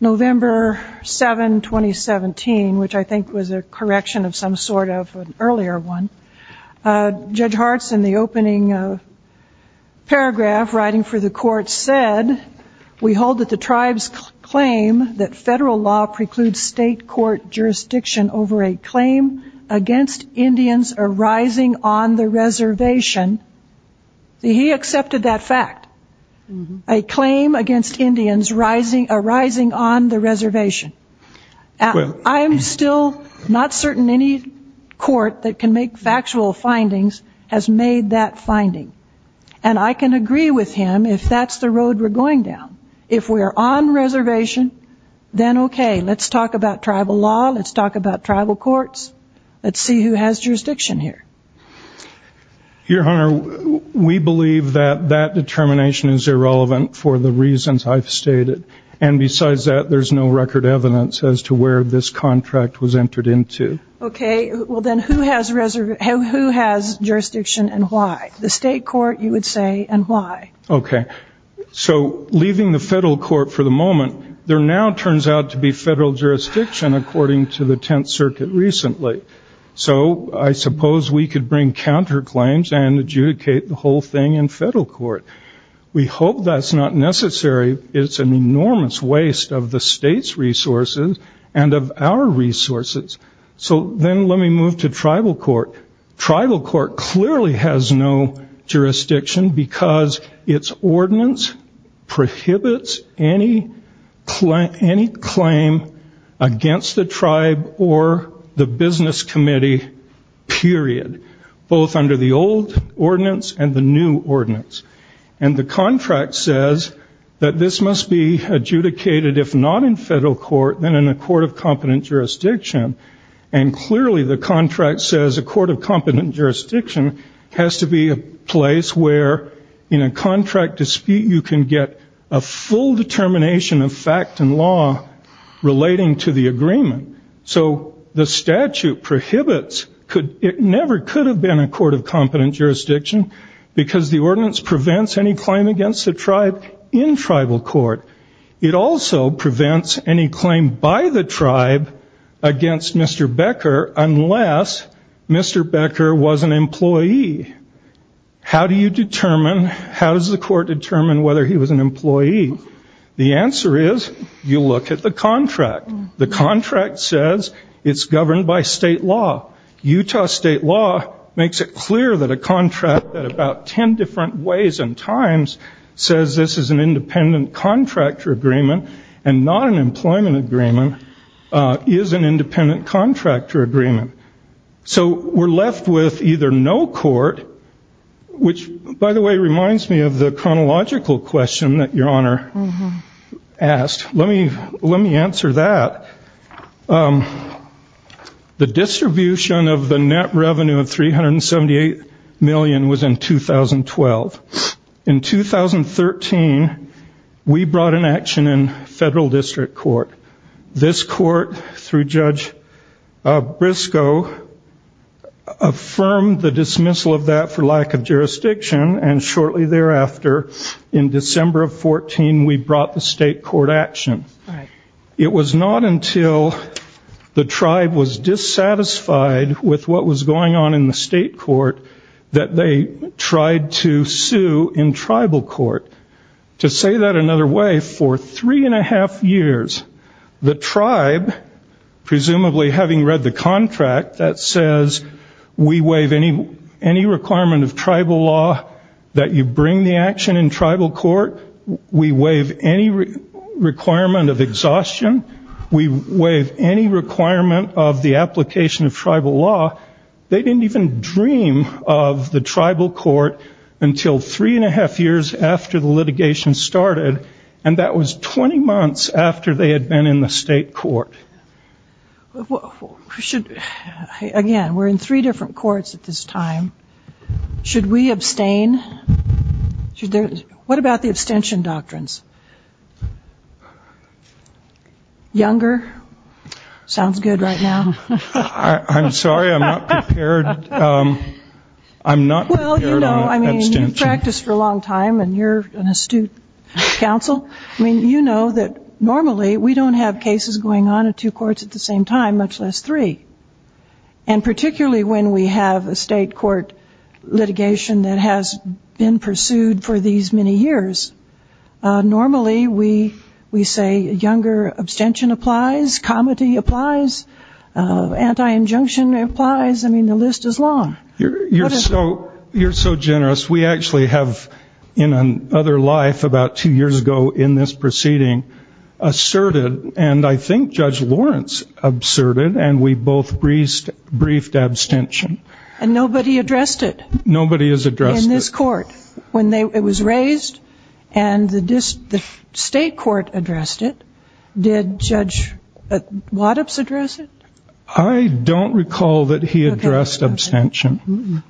November 7, 2017, which I think was a correction of some sort of an earlier one, Judge Hartz in the opening paragraph writing for the court said, We hold that the tribes claim that federal law precludes state court jurisdiction over a claim against Indians arising on the reservation. He accepted that fact. A claim against Indians arising on the reservation. I am still not certain any court that can make factual findings has made that finding. And I can agree with him if that's the road we're going down. If we're on reservation, then okay, let's talk about tribal law, let's talk about tribal courts. Let's see who has jurisdiction here. Your Honor, we believe that that determination is irrelevant for the reasons I've stated. And besides that, there's no record evidence as to where this contract was entered into. Okay. Well, then who has jurisdiction and why? The state court, you would say, and why? Okay. So leaving the federal court for the moment, there now turns out to be federal jurisdiction according to the Tenth Circuit recently. So I suppose we could bring counterclaims and adjudicate the whole thing in federal court. We hope that's not necessary. It's an enormous waste of the state's resources and of our resources. So then let me move to tribal court. Tribal court clearly has no jurisdiction because its ordinance prohibits any claim against the tribe or the business committee, period, both under the old ordinance and the new ordinance. And the contract says that this must be adjudicated if not in federal court, then in a court of competent jurisdiction. And clearly the contract says a court of competent jurisdiction has to be a place where in a contract dispute you can get a full determination of fact and law relating to the agreement. So the statute prohibits, it never could have been a court of competent jurisdiction because the ordinance prevents any claim against the tribe in tribal court. It also prevents any claim by the tribe against Mr. Becker unless Mr. Becker was an employee. How do you determine, how does the court determine whether he was an employee? The answer is you look at the contract. The contract says it's governed by state law. Utah state law makes it clear that a contract at about 10 different ways and times says this is an independent contractor agreement and not an employment agreement is an independent contractor agreement. So we're left with either no court, which by the way reminds me of the chronological question that Your Honor asked. Let me answer that. The distribution of the net revenue of $378 million was in 2012. In 2013, we brought an action in federal district court. This court through Judge Briscoe affirmed the dismissal of that for lack of jurisdiction and shortly thereafter in December of 14, we brought the state court action. It was not until the tribe was dissatisfied with what was going on in the state court that they tried to sue in tribal court. To say that another way, for three and a half years, the tribe, presumably having read the contract, that says we waive any requirement of tribal law that you bring the action in tribal court. We waive any requirement of exhaustion. We waive any requirement of the application of tribal law. They didn't even dream of the tribal court until three and a half years after the litigation started and that was 20 months after they had been in the state court. Again, we're in three different courts at this time. Should we abstain? What about the abstention doctrines? Younger? Sounds good right now. I'm sorry, I'm not prepared. I'm not prepared on abstention. Well, you know, I mean, you've practiced for a long time and you're an astute counsel. I mean, you know that normally we don't have cases going on in two courts at the same time, much less three. And particularly when we have a state court litigation that has been pursued for these many years, normally we say younger abstention applies, comity applies, anti-injunction applies. I mean, the list is long. You're so generous. We actually have in another life about two years ago in this proceeding asserted, and I think Judge Lawrence asserted, and we both briefed abstention. And nobody addressed it. Nobody has addressed it. When it was raised and the state court addressed it, did Judge Waddups address it? I don't recall that he addressed abstention.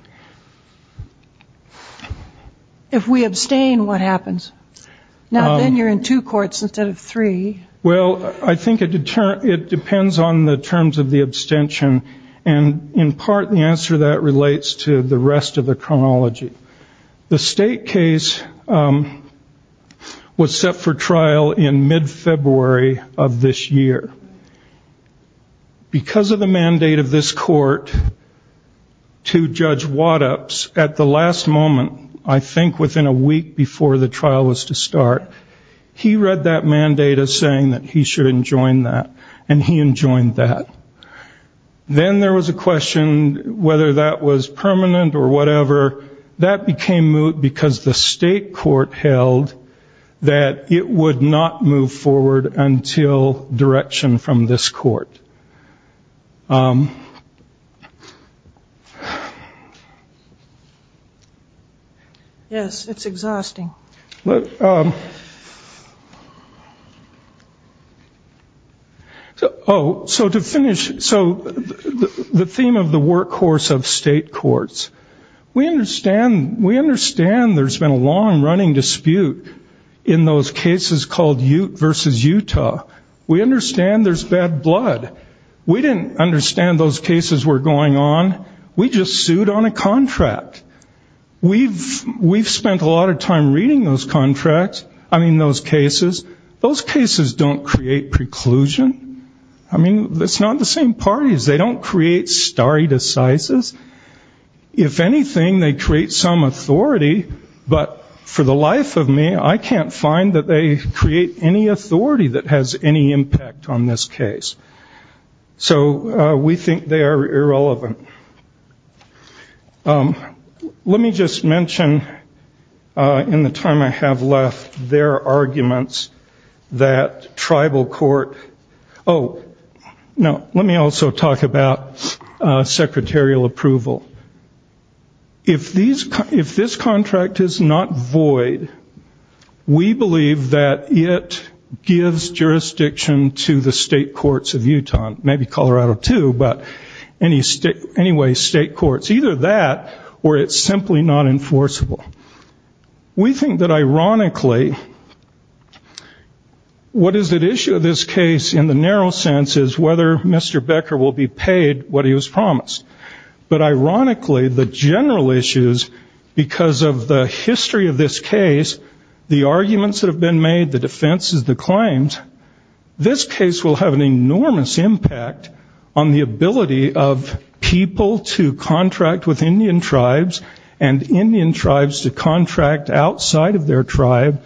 If we abstain, what happens? Now then you're in two courts instead of three. Well, I think it depends on the terms of the abstention, and in part the answer to that relates to the rest of the chronology. The state case was set for trial in mid-February of this year. Because of the mandate of this court to Judge Waddups at the last moment, I think within a week before the trial was to start, he read that mandate as saying that he should enjoin that, and he enjoined that. Then there was a question whether that was permanent or whatever. That became moot because the state court held that it would not move forward until direction from this court. Yes. It's exhausting. To finish, the theme of the workhorse of state courts, we understand there's been a long-running dispute in those cases called Ute v. Utah. We understand there's bad blood. We didn't understand those cases were going on. We just sued on a contract. We've spent a lot of time reading those cases. Those cases don't create preclusion. I mean, it's not the same parties. They don't create stare decisis. If anything, they create some authority, but for the life of me, I can't find that they create any authority that has any impact on this case. So we think they are irrelevant. Let me just mention in the time I have left their arguments that tribal court oh, no, let me also talk about secretarial approval. If this contract is not void, we believe that it gives jurisdiction to the state courts of Utah, maybe Colorado too, but anyway, state courts. Either that or it's simply not enforceable. We think that ironically what is at issue in this case in the narrow sense is whether Mr. Becker will be paid what he was promised, but ironically the general issues because of the history of this case, the arguments that have been made, the defenses, the claims, this case will have an enormous impact on the ability of people to contract with Indian tribes and Indian tribes to contract outside of their tribe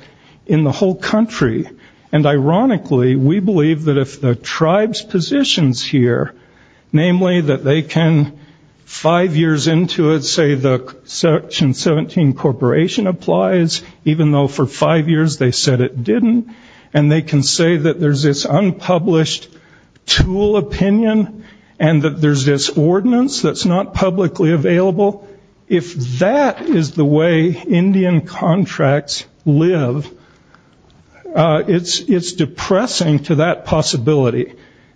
in the whole country. And ironically, we believe that if the tribe's positions here, namely that they can five years into it, say the section 17 corporation applies, even though for five years they said it didn't, and they can say that there's this unpublished tool opinion and that there's this ordinance that's not publicly available, if that is the way Indian contracts live, it's depressing to that possibility.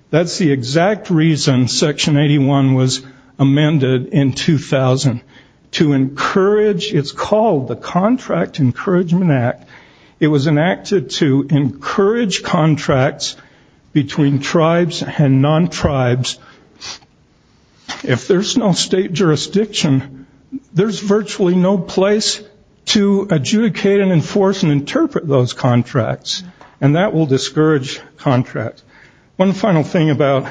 That's the exact reason section 81 was amended in 2000 to encourage, it's called the Contract Encouragement Act. It was enacted to encourage contracts between tribes and non-tribes. If there's no state jurisdiction, there's virtually no place to adjudicate and enforce and interpret those contracts, and that will discourage contracts. One final thing about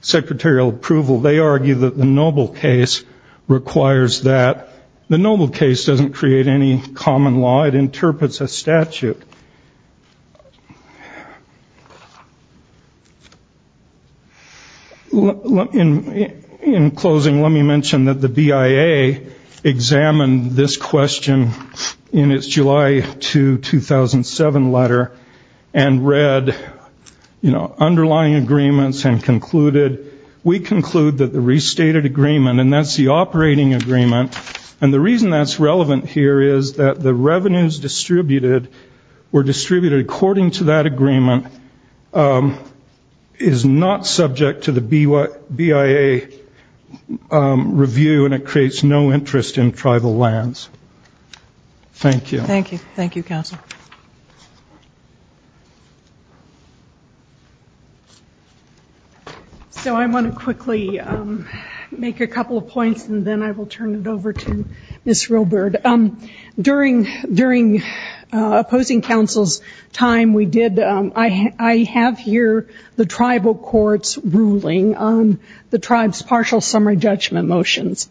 secretarial approval, they argue that the Noble case requires that. In closing, let me mention that the BIA examined this question in its July 2, 2007 letter and read underlying agreements and concluded, we conclude that the restated agreement, and that's the operating agreement, and the reason that's relevant here is that the revenues distributed according to that agreement is not subject to the BIA review, and it creates no interest in tribal lands. Thank you. Thank you. Thank you, Counsel. So I want to quickly make a couple of points, and then I will turn it over to Ms. Roebert. During opposing counsel's time, I have here the tribal court's ruling on the tribe's partial summary judgment motions,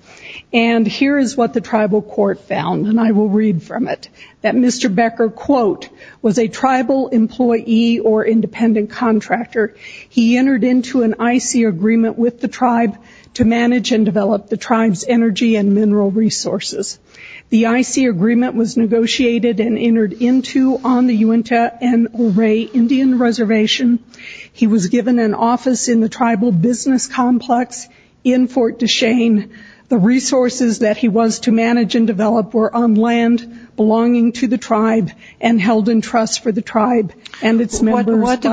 and here is what the tribal court found, and I will read from it, that Mr. Becker, quote, was a tribal employee or independent contractor. He entered into an IC agreement with the tribe to manage and develop the tribe's energy and mineral resources. The IC agreement was negotiated and entered into on the Uinta and Olray Indian Reservation. He was given an office in the tribal business complex in Fort Deschenes. The resources that he was to manage and develop were on land belonging to the tribe and held in trust for the tribe and its members. What do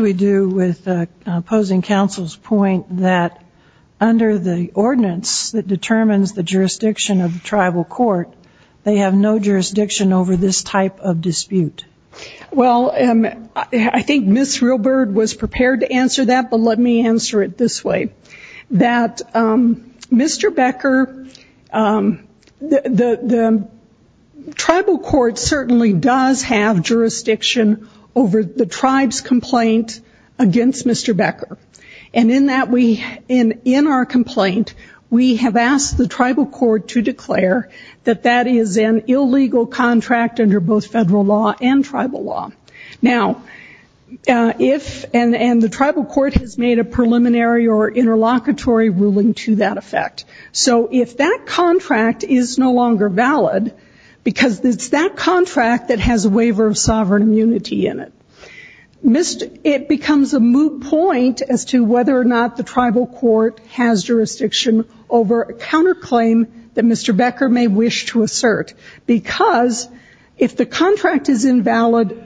we do with opposing counsel's point that under the ordinance that determines the jurisdiction of tribal court, they have no jurisdiction over this type of dispute? Well, I think Ms. Roebert was prepared to answer that, but let me answer it this way, that Mr. Becker, the tribal court certainly does have jurisdiction over the tribe's complaint against Mr. Becker, and in our complaint, we have asked the tribal court to declare that that is an illegal contract under both federal law and tribal law. Now, if and the tribal court has made a preliminary or interlocutory ruling to that effect, so if that contract is no longer valid because it's that contract that has a waiver of sovereign immunity in it, it becomes a moot point as to whether or not the tribal court has jurisdiction over a counterclaim that Mr. Becker may wish to assert because if the contract is invalid,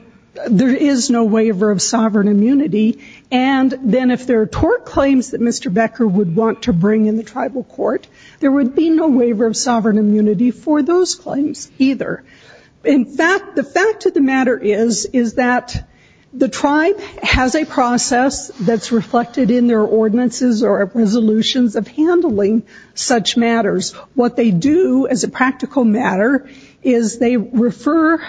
there is no waiver of sovereign immunity, and then if there are tort claims that Mr. Becker would want to bring in the tribal court, there would be no waiver of sovereign immunity for those claims either. In fact, the fact of the matter is that the tribe has a process that's reflected in their ordinances or resolutions of handling such matters. What they do as a practical matter is they refer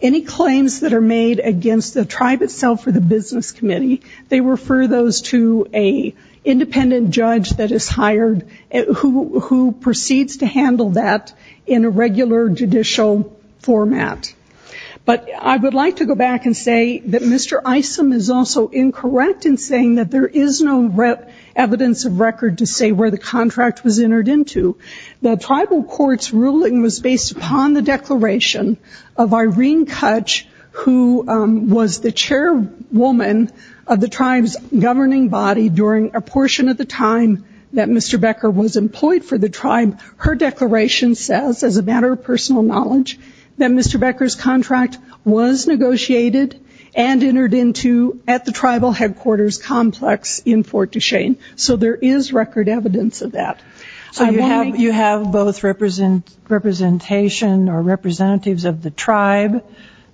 any claims that are made against the tribe itself or the business committee, they refer those to an independent judge that is hired who proceeds to handle that in a regular judicial format. But I would like to go back and say that Mr. Isom is also incorrect in saying that there is no evidence of record to say where the contract was entered into. The tribal court's ruling was based upon the declaration of Irene Kutch, who was the chairwoman of the tribe's governing body during a portion of the time that Mr. Becker was employed for the tribe. Her declaration says, as a matter of personal knowledge, that Mr. Becker's contract was negotiated and entered into at the tribal headquarters complex in Fort Duchesne. So there is record evidence of that. So you have both representation or representatives of the tribe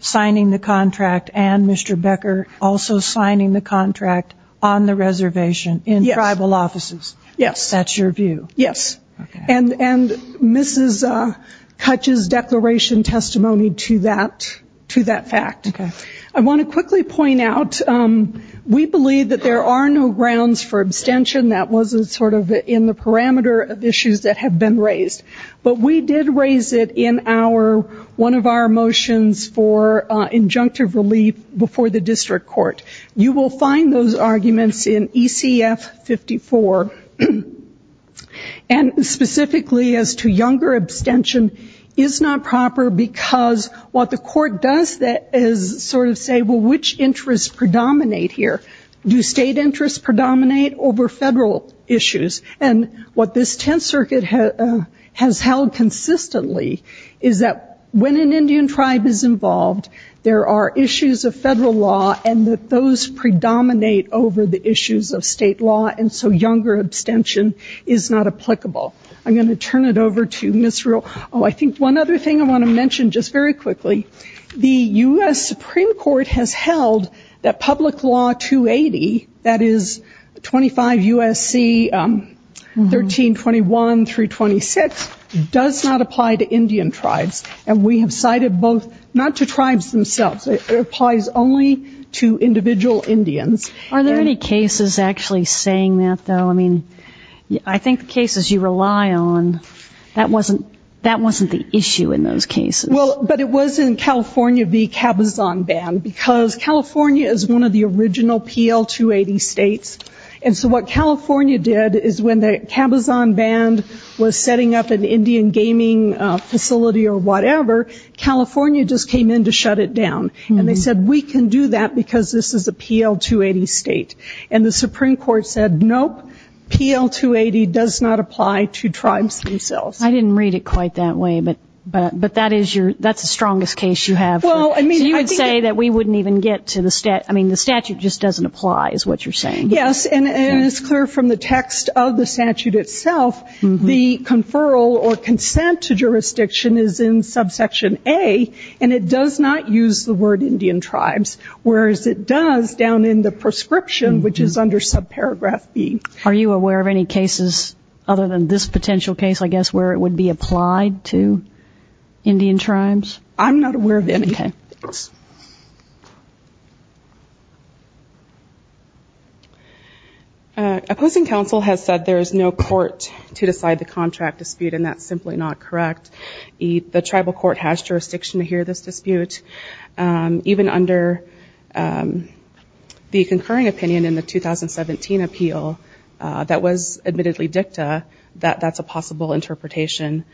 signing the contract and Mr. Becker also signing the contract on the reservation in tribal offices? Yes. That's your view? Yes. And Mrs. Kutch's declaration testimony to that fact. I want to quickly point out we believe that there are no grounds for abstention. That wasn't sort of in the parameter of issues that have been raised. But we did raise it in one of our motions for injunctive relief before the district court. You will find those arguments in ECF 54. And specifically as to younger abstention is not proper because what the court does is sort of say, well, which interests predominate here? Do state interests predominate over federal issues? And what this Tenth Circuit has held consistently is that when an Indian tribe is involved, there are issues of federal law and that those predominate over the issues of state law and so younger abstention is not applicable. I'm going to turn it over to Ms. Ruehl. Oh, I think one other thing I want to mention just very quickly. The U.S. Supreme Court has held that public law 280, that is 25 U.S.C. 1321 through 26, does not apply to Indian tribes. And we have cited both not to tribes themselves. It applies only to individual Indians. Are there any cases actually saying that, though? I mean, I think the cases you rely on, that wasn't the issue in those cases. Well, but it was in California v. Cabazon Band because California is one of the original PL 280 states. And so what California did is when the Cabazon Band was setting up an Indian gaming facility or whatever, California just came in to shut it down. And they said, we can do that because this is a PL 280 state. And the Supreme Court said, nope, PL 280 does not apply to tribes themselves. I didn't read it quite that way, but that's the strongest case you have. So you would say that we wouldn't even get to the statute. I mean, the statute just doesn't apply is what you're saying. Yes, and it is clear from the text of the statute itself, the conferral or consent to jurisdiction is in subsection A, and it does not use the word Indian tribes, whereas it does down in the prescription, which is under subparagraph B. Are you aware of any cases other than this potential case, I guess, where it would be applied to Indian tribes? I'm not aware of any. Okay. Thanks. Opposing counsel has said there is no court to decide the contract dispute, and that's simply not correct. The tribal court has jurisdiction to hear this dispute. Even under the concurring opinion in the 2017 appeal that was admittedly dicta, that that's a possible interpretation.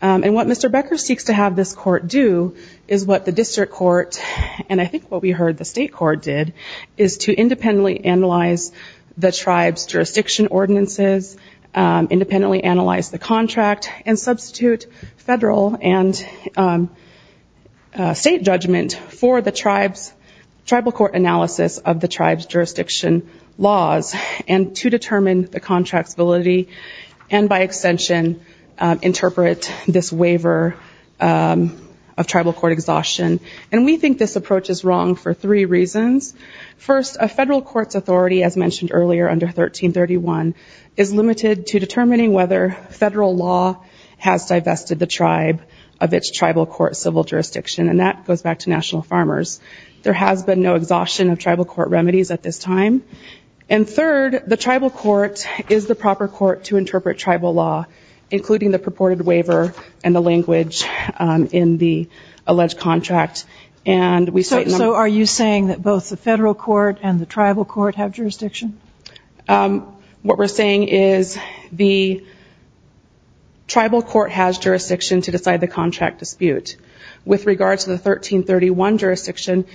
And what Mr. Becker seeks to have this court do is what the district court, and I think what we heard the state court did, is to independently analyze the tribe's jurisdiction ordinances, independently analyze the contract, and substitute federal and state judgment for the tribal court analysis of the tribe's jurisdiction laws, and to determine the contract's validity, and by extension interpret this waiver of tribal court exhaustion. And we think this approach is wrong for three reasons. First, a federal court's authority, as mentioned earlier, under 1331, is limited to determining whether federal law has divested the tribe of its tribal court civil jurisdiction, and that goes back to national farmers. There has been no exhaustion of tribal court remedies at this time. And third, the tribal court is the proper court to interpret tribal law, including the purported waiver and the language in the alleged contract. So are you saying that both the federal court and the tribal court have jurisdiction? What we're saying is the tribal court has jurisdiction to decide the contract dispute. With regard to the 1331 jurisdiction,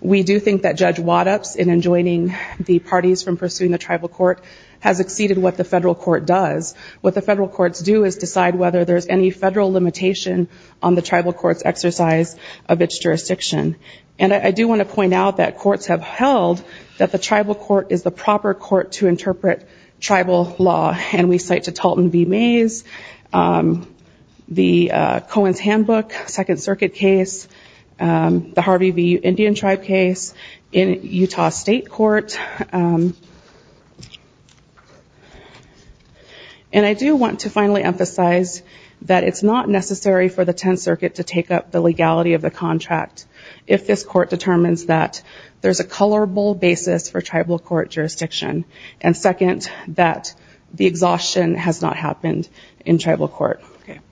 we do think that Judge Waddup's in enjoining the parties from pursuing the tribal court has exceeded what the federal court does. What the federal courts do is decide whether there's any federal limitation on the tribal court's exercise of its jurisdiction. And I do want to point out that courts have held that the tribal court is the proper court to interpret tribal law, and we cite to Talton v. Mays, the Cohen's Handbook Second Circuit case, the Harvey v. Indian Tribe case in Utah State Court. And I do want to finally emphasize that it's not necessary for the 10th Circuit to take up the legality of the contract if this court determines that there's a colorable basis for tribal court jurisdiction, and second, that the exhaustion has not happened in tribal court. Thank you.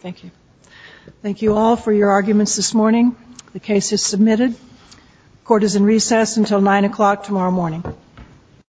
Thank you. Thank you all for your arguments this morning. The case is submitted. Court is in recess until 9 o'clock tomorrow morning.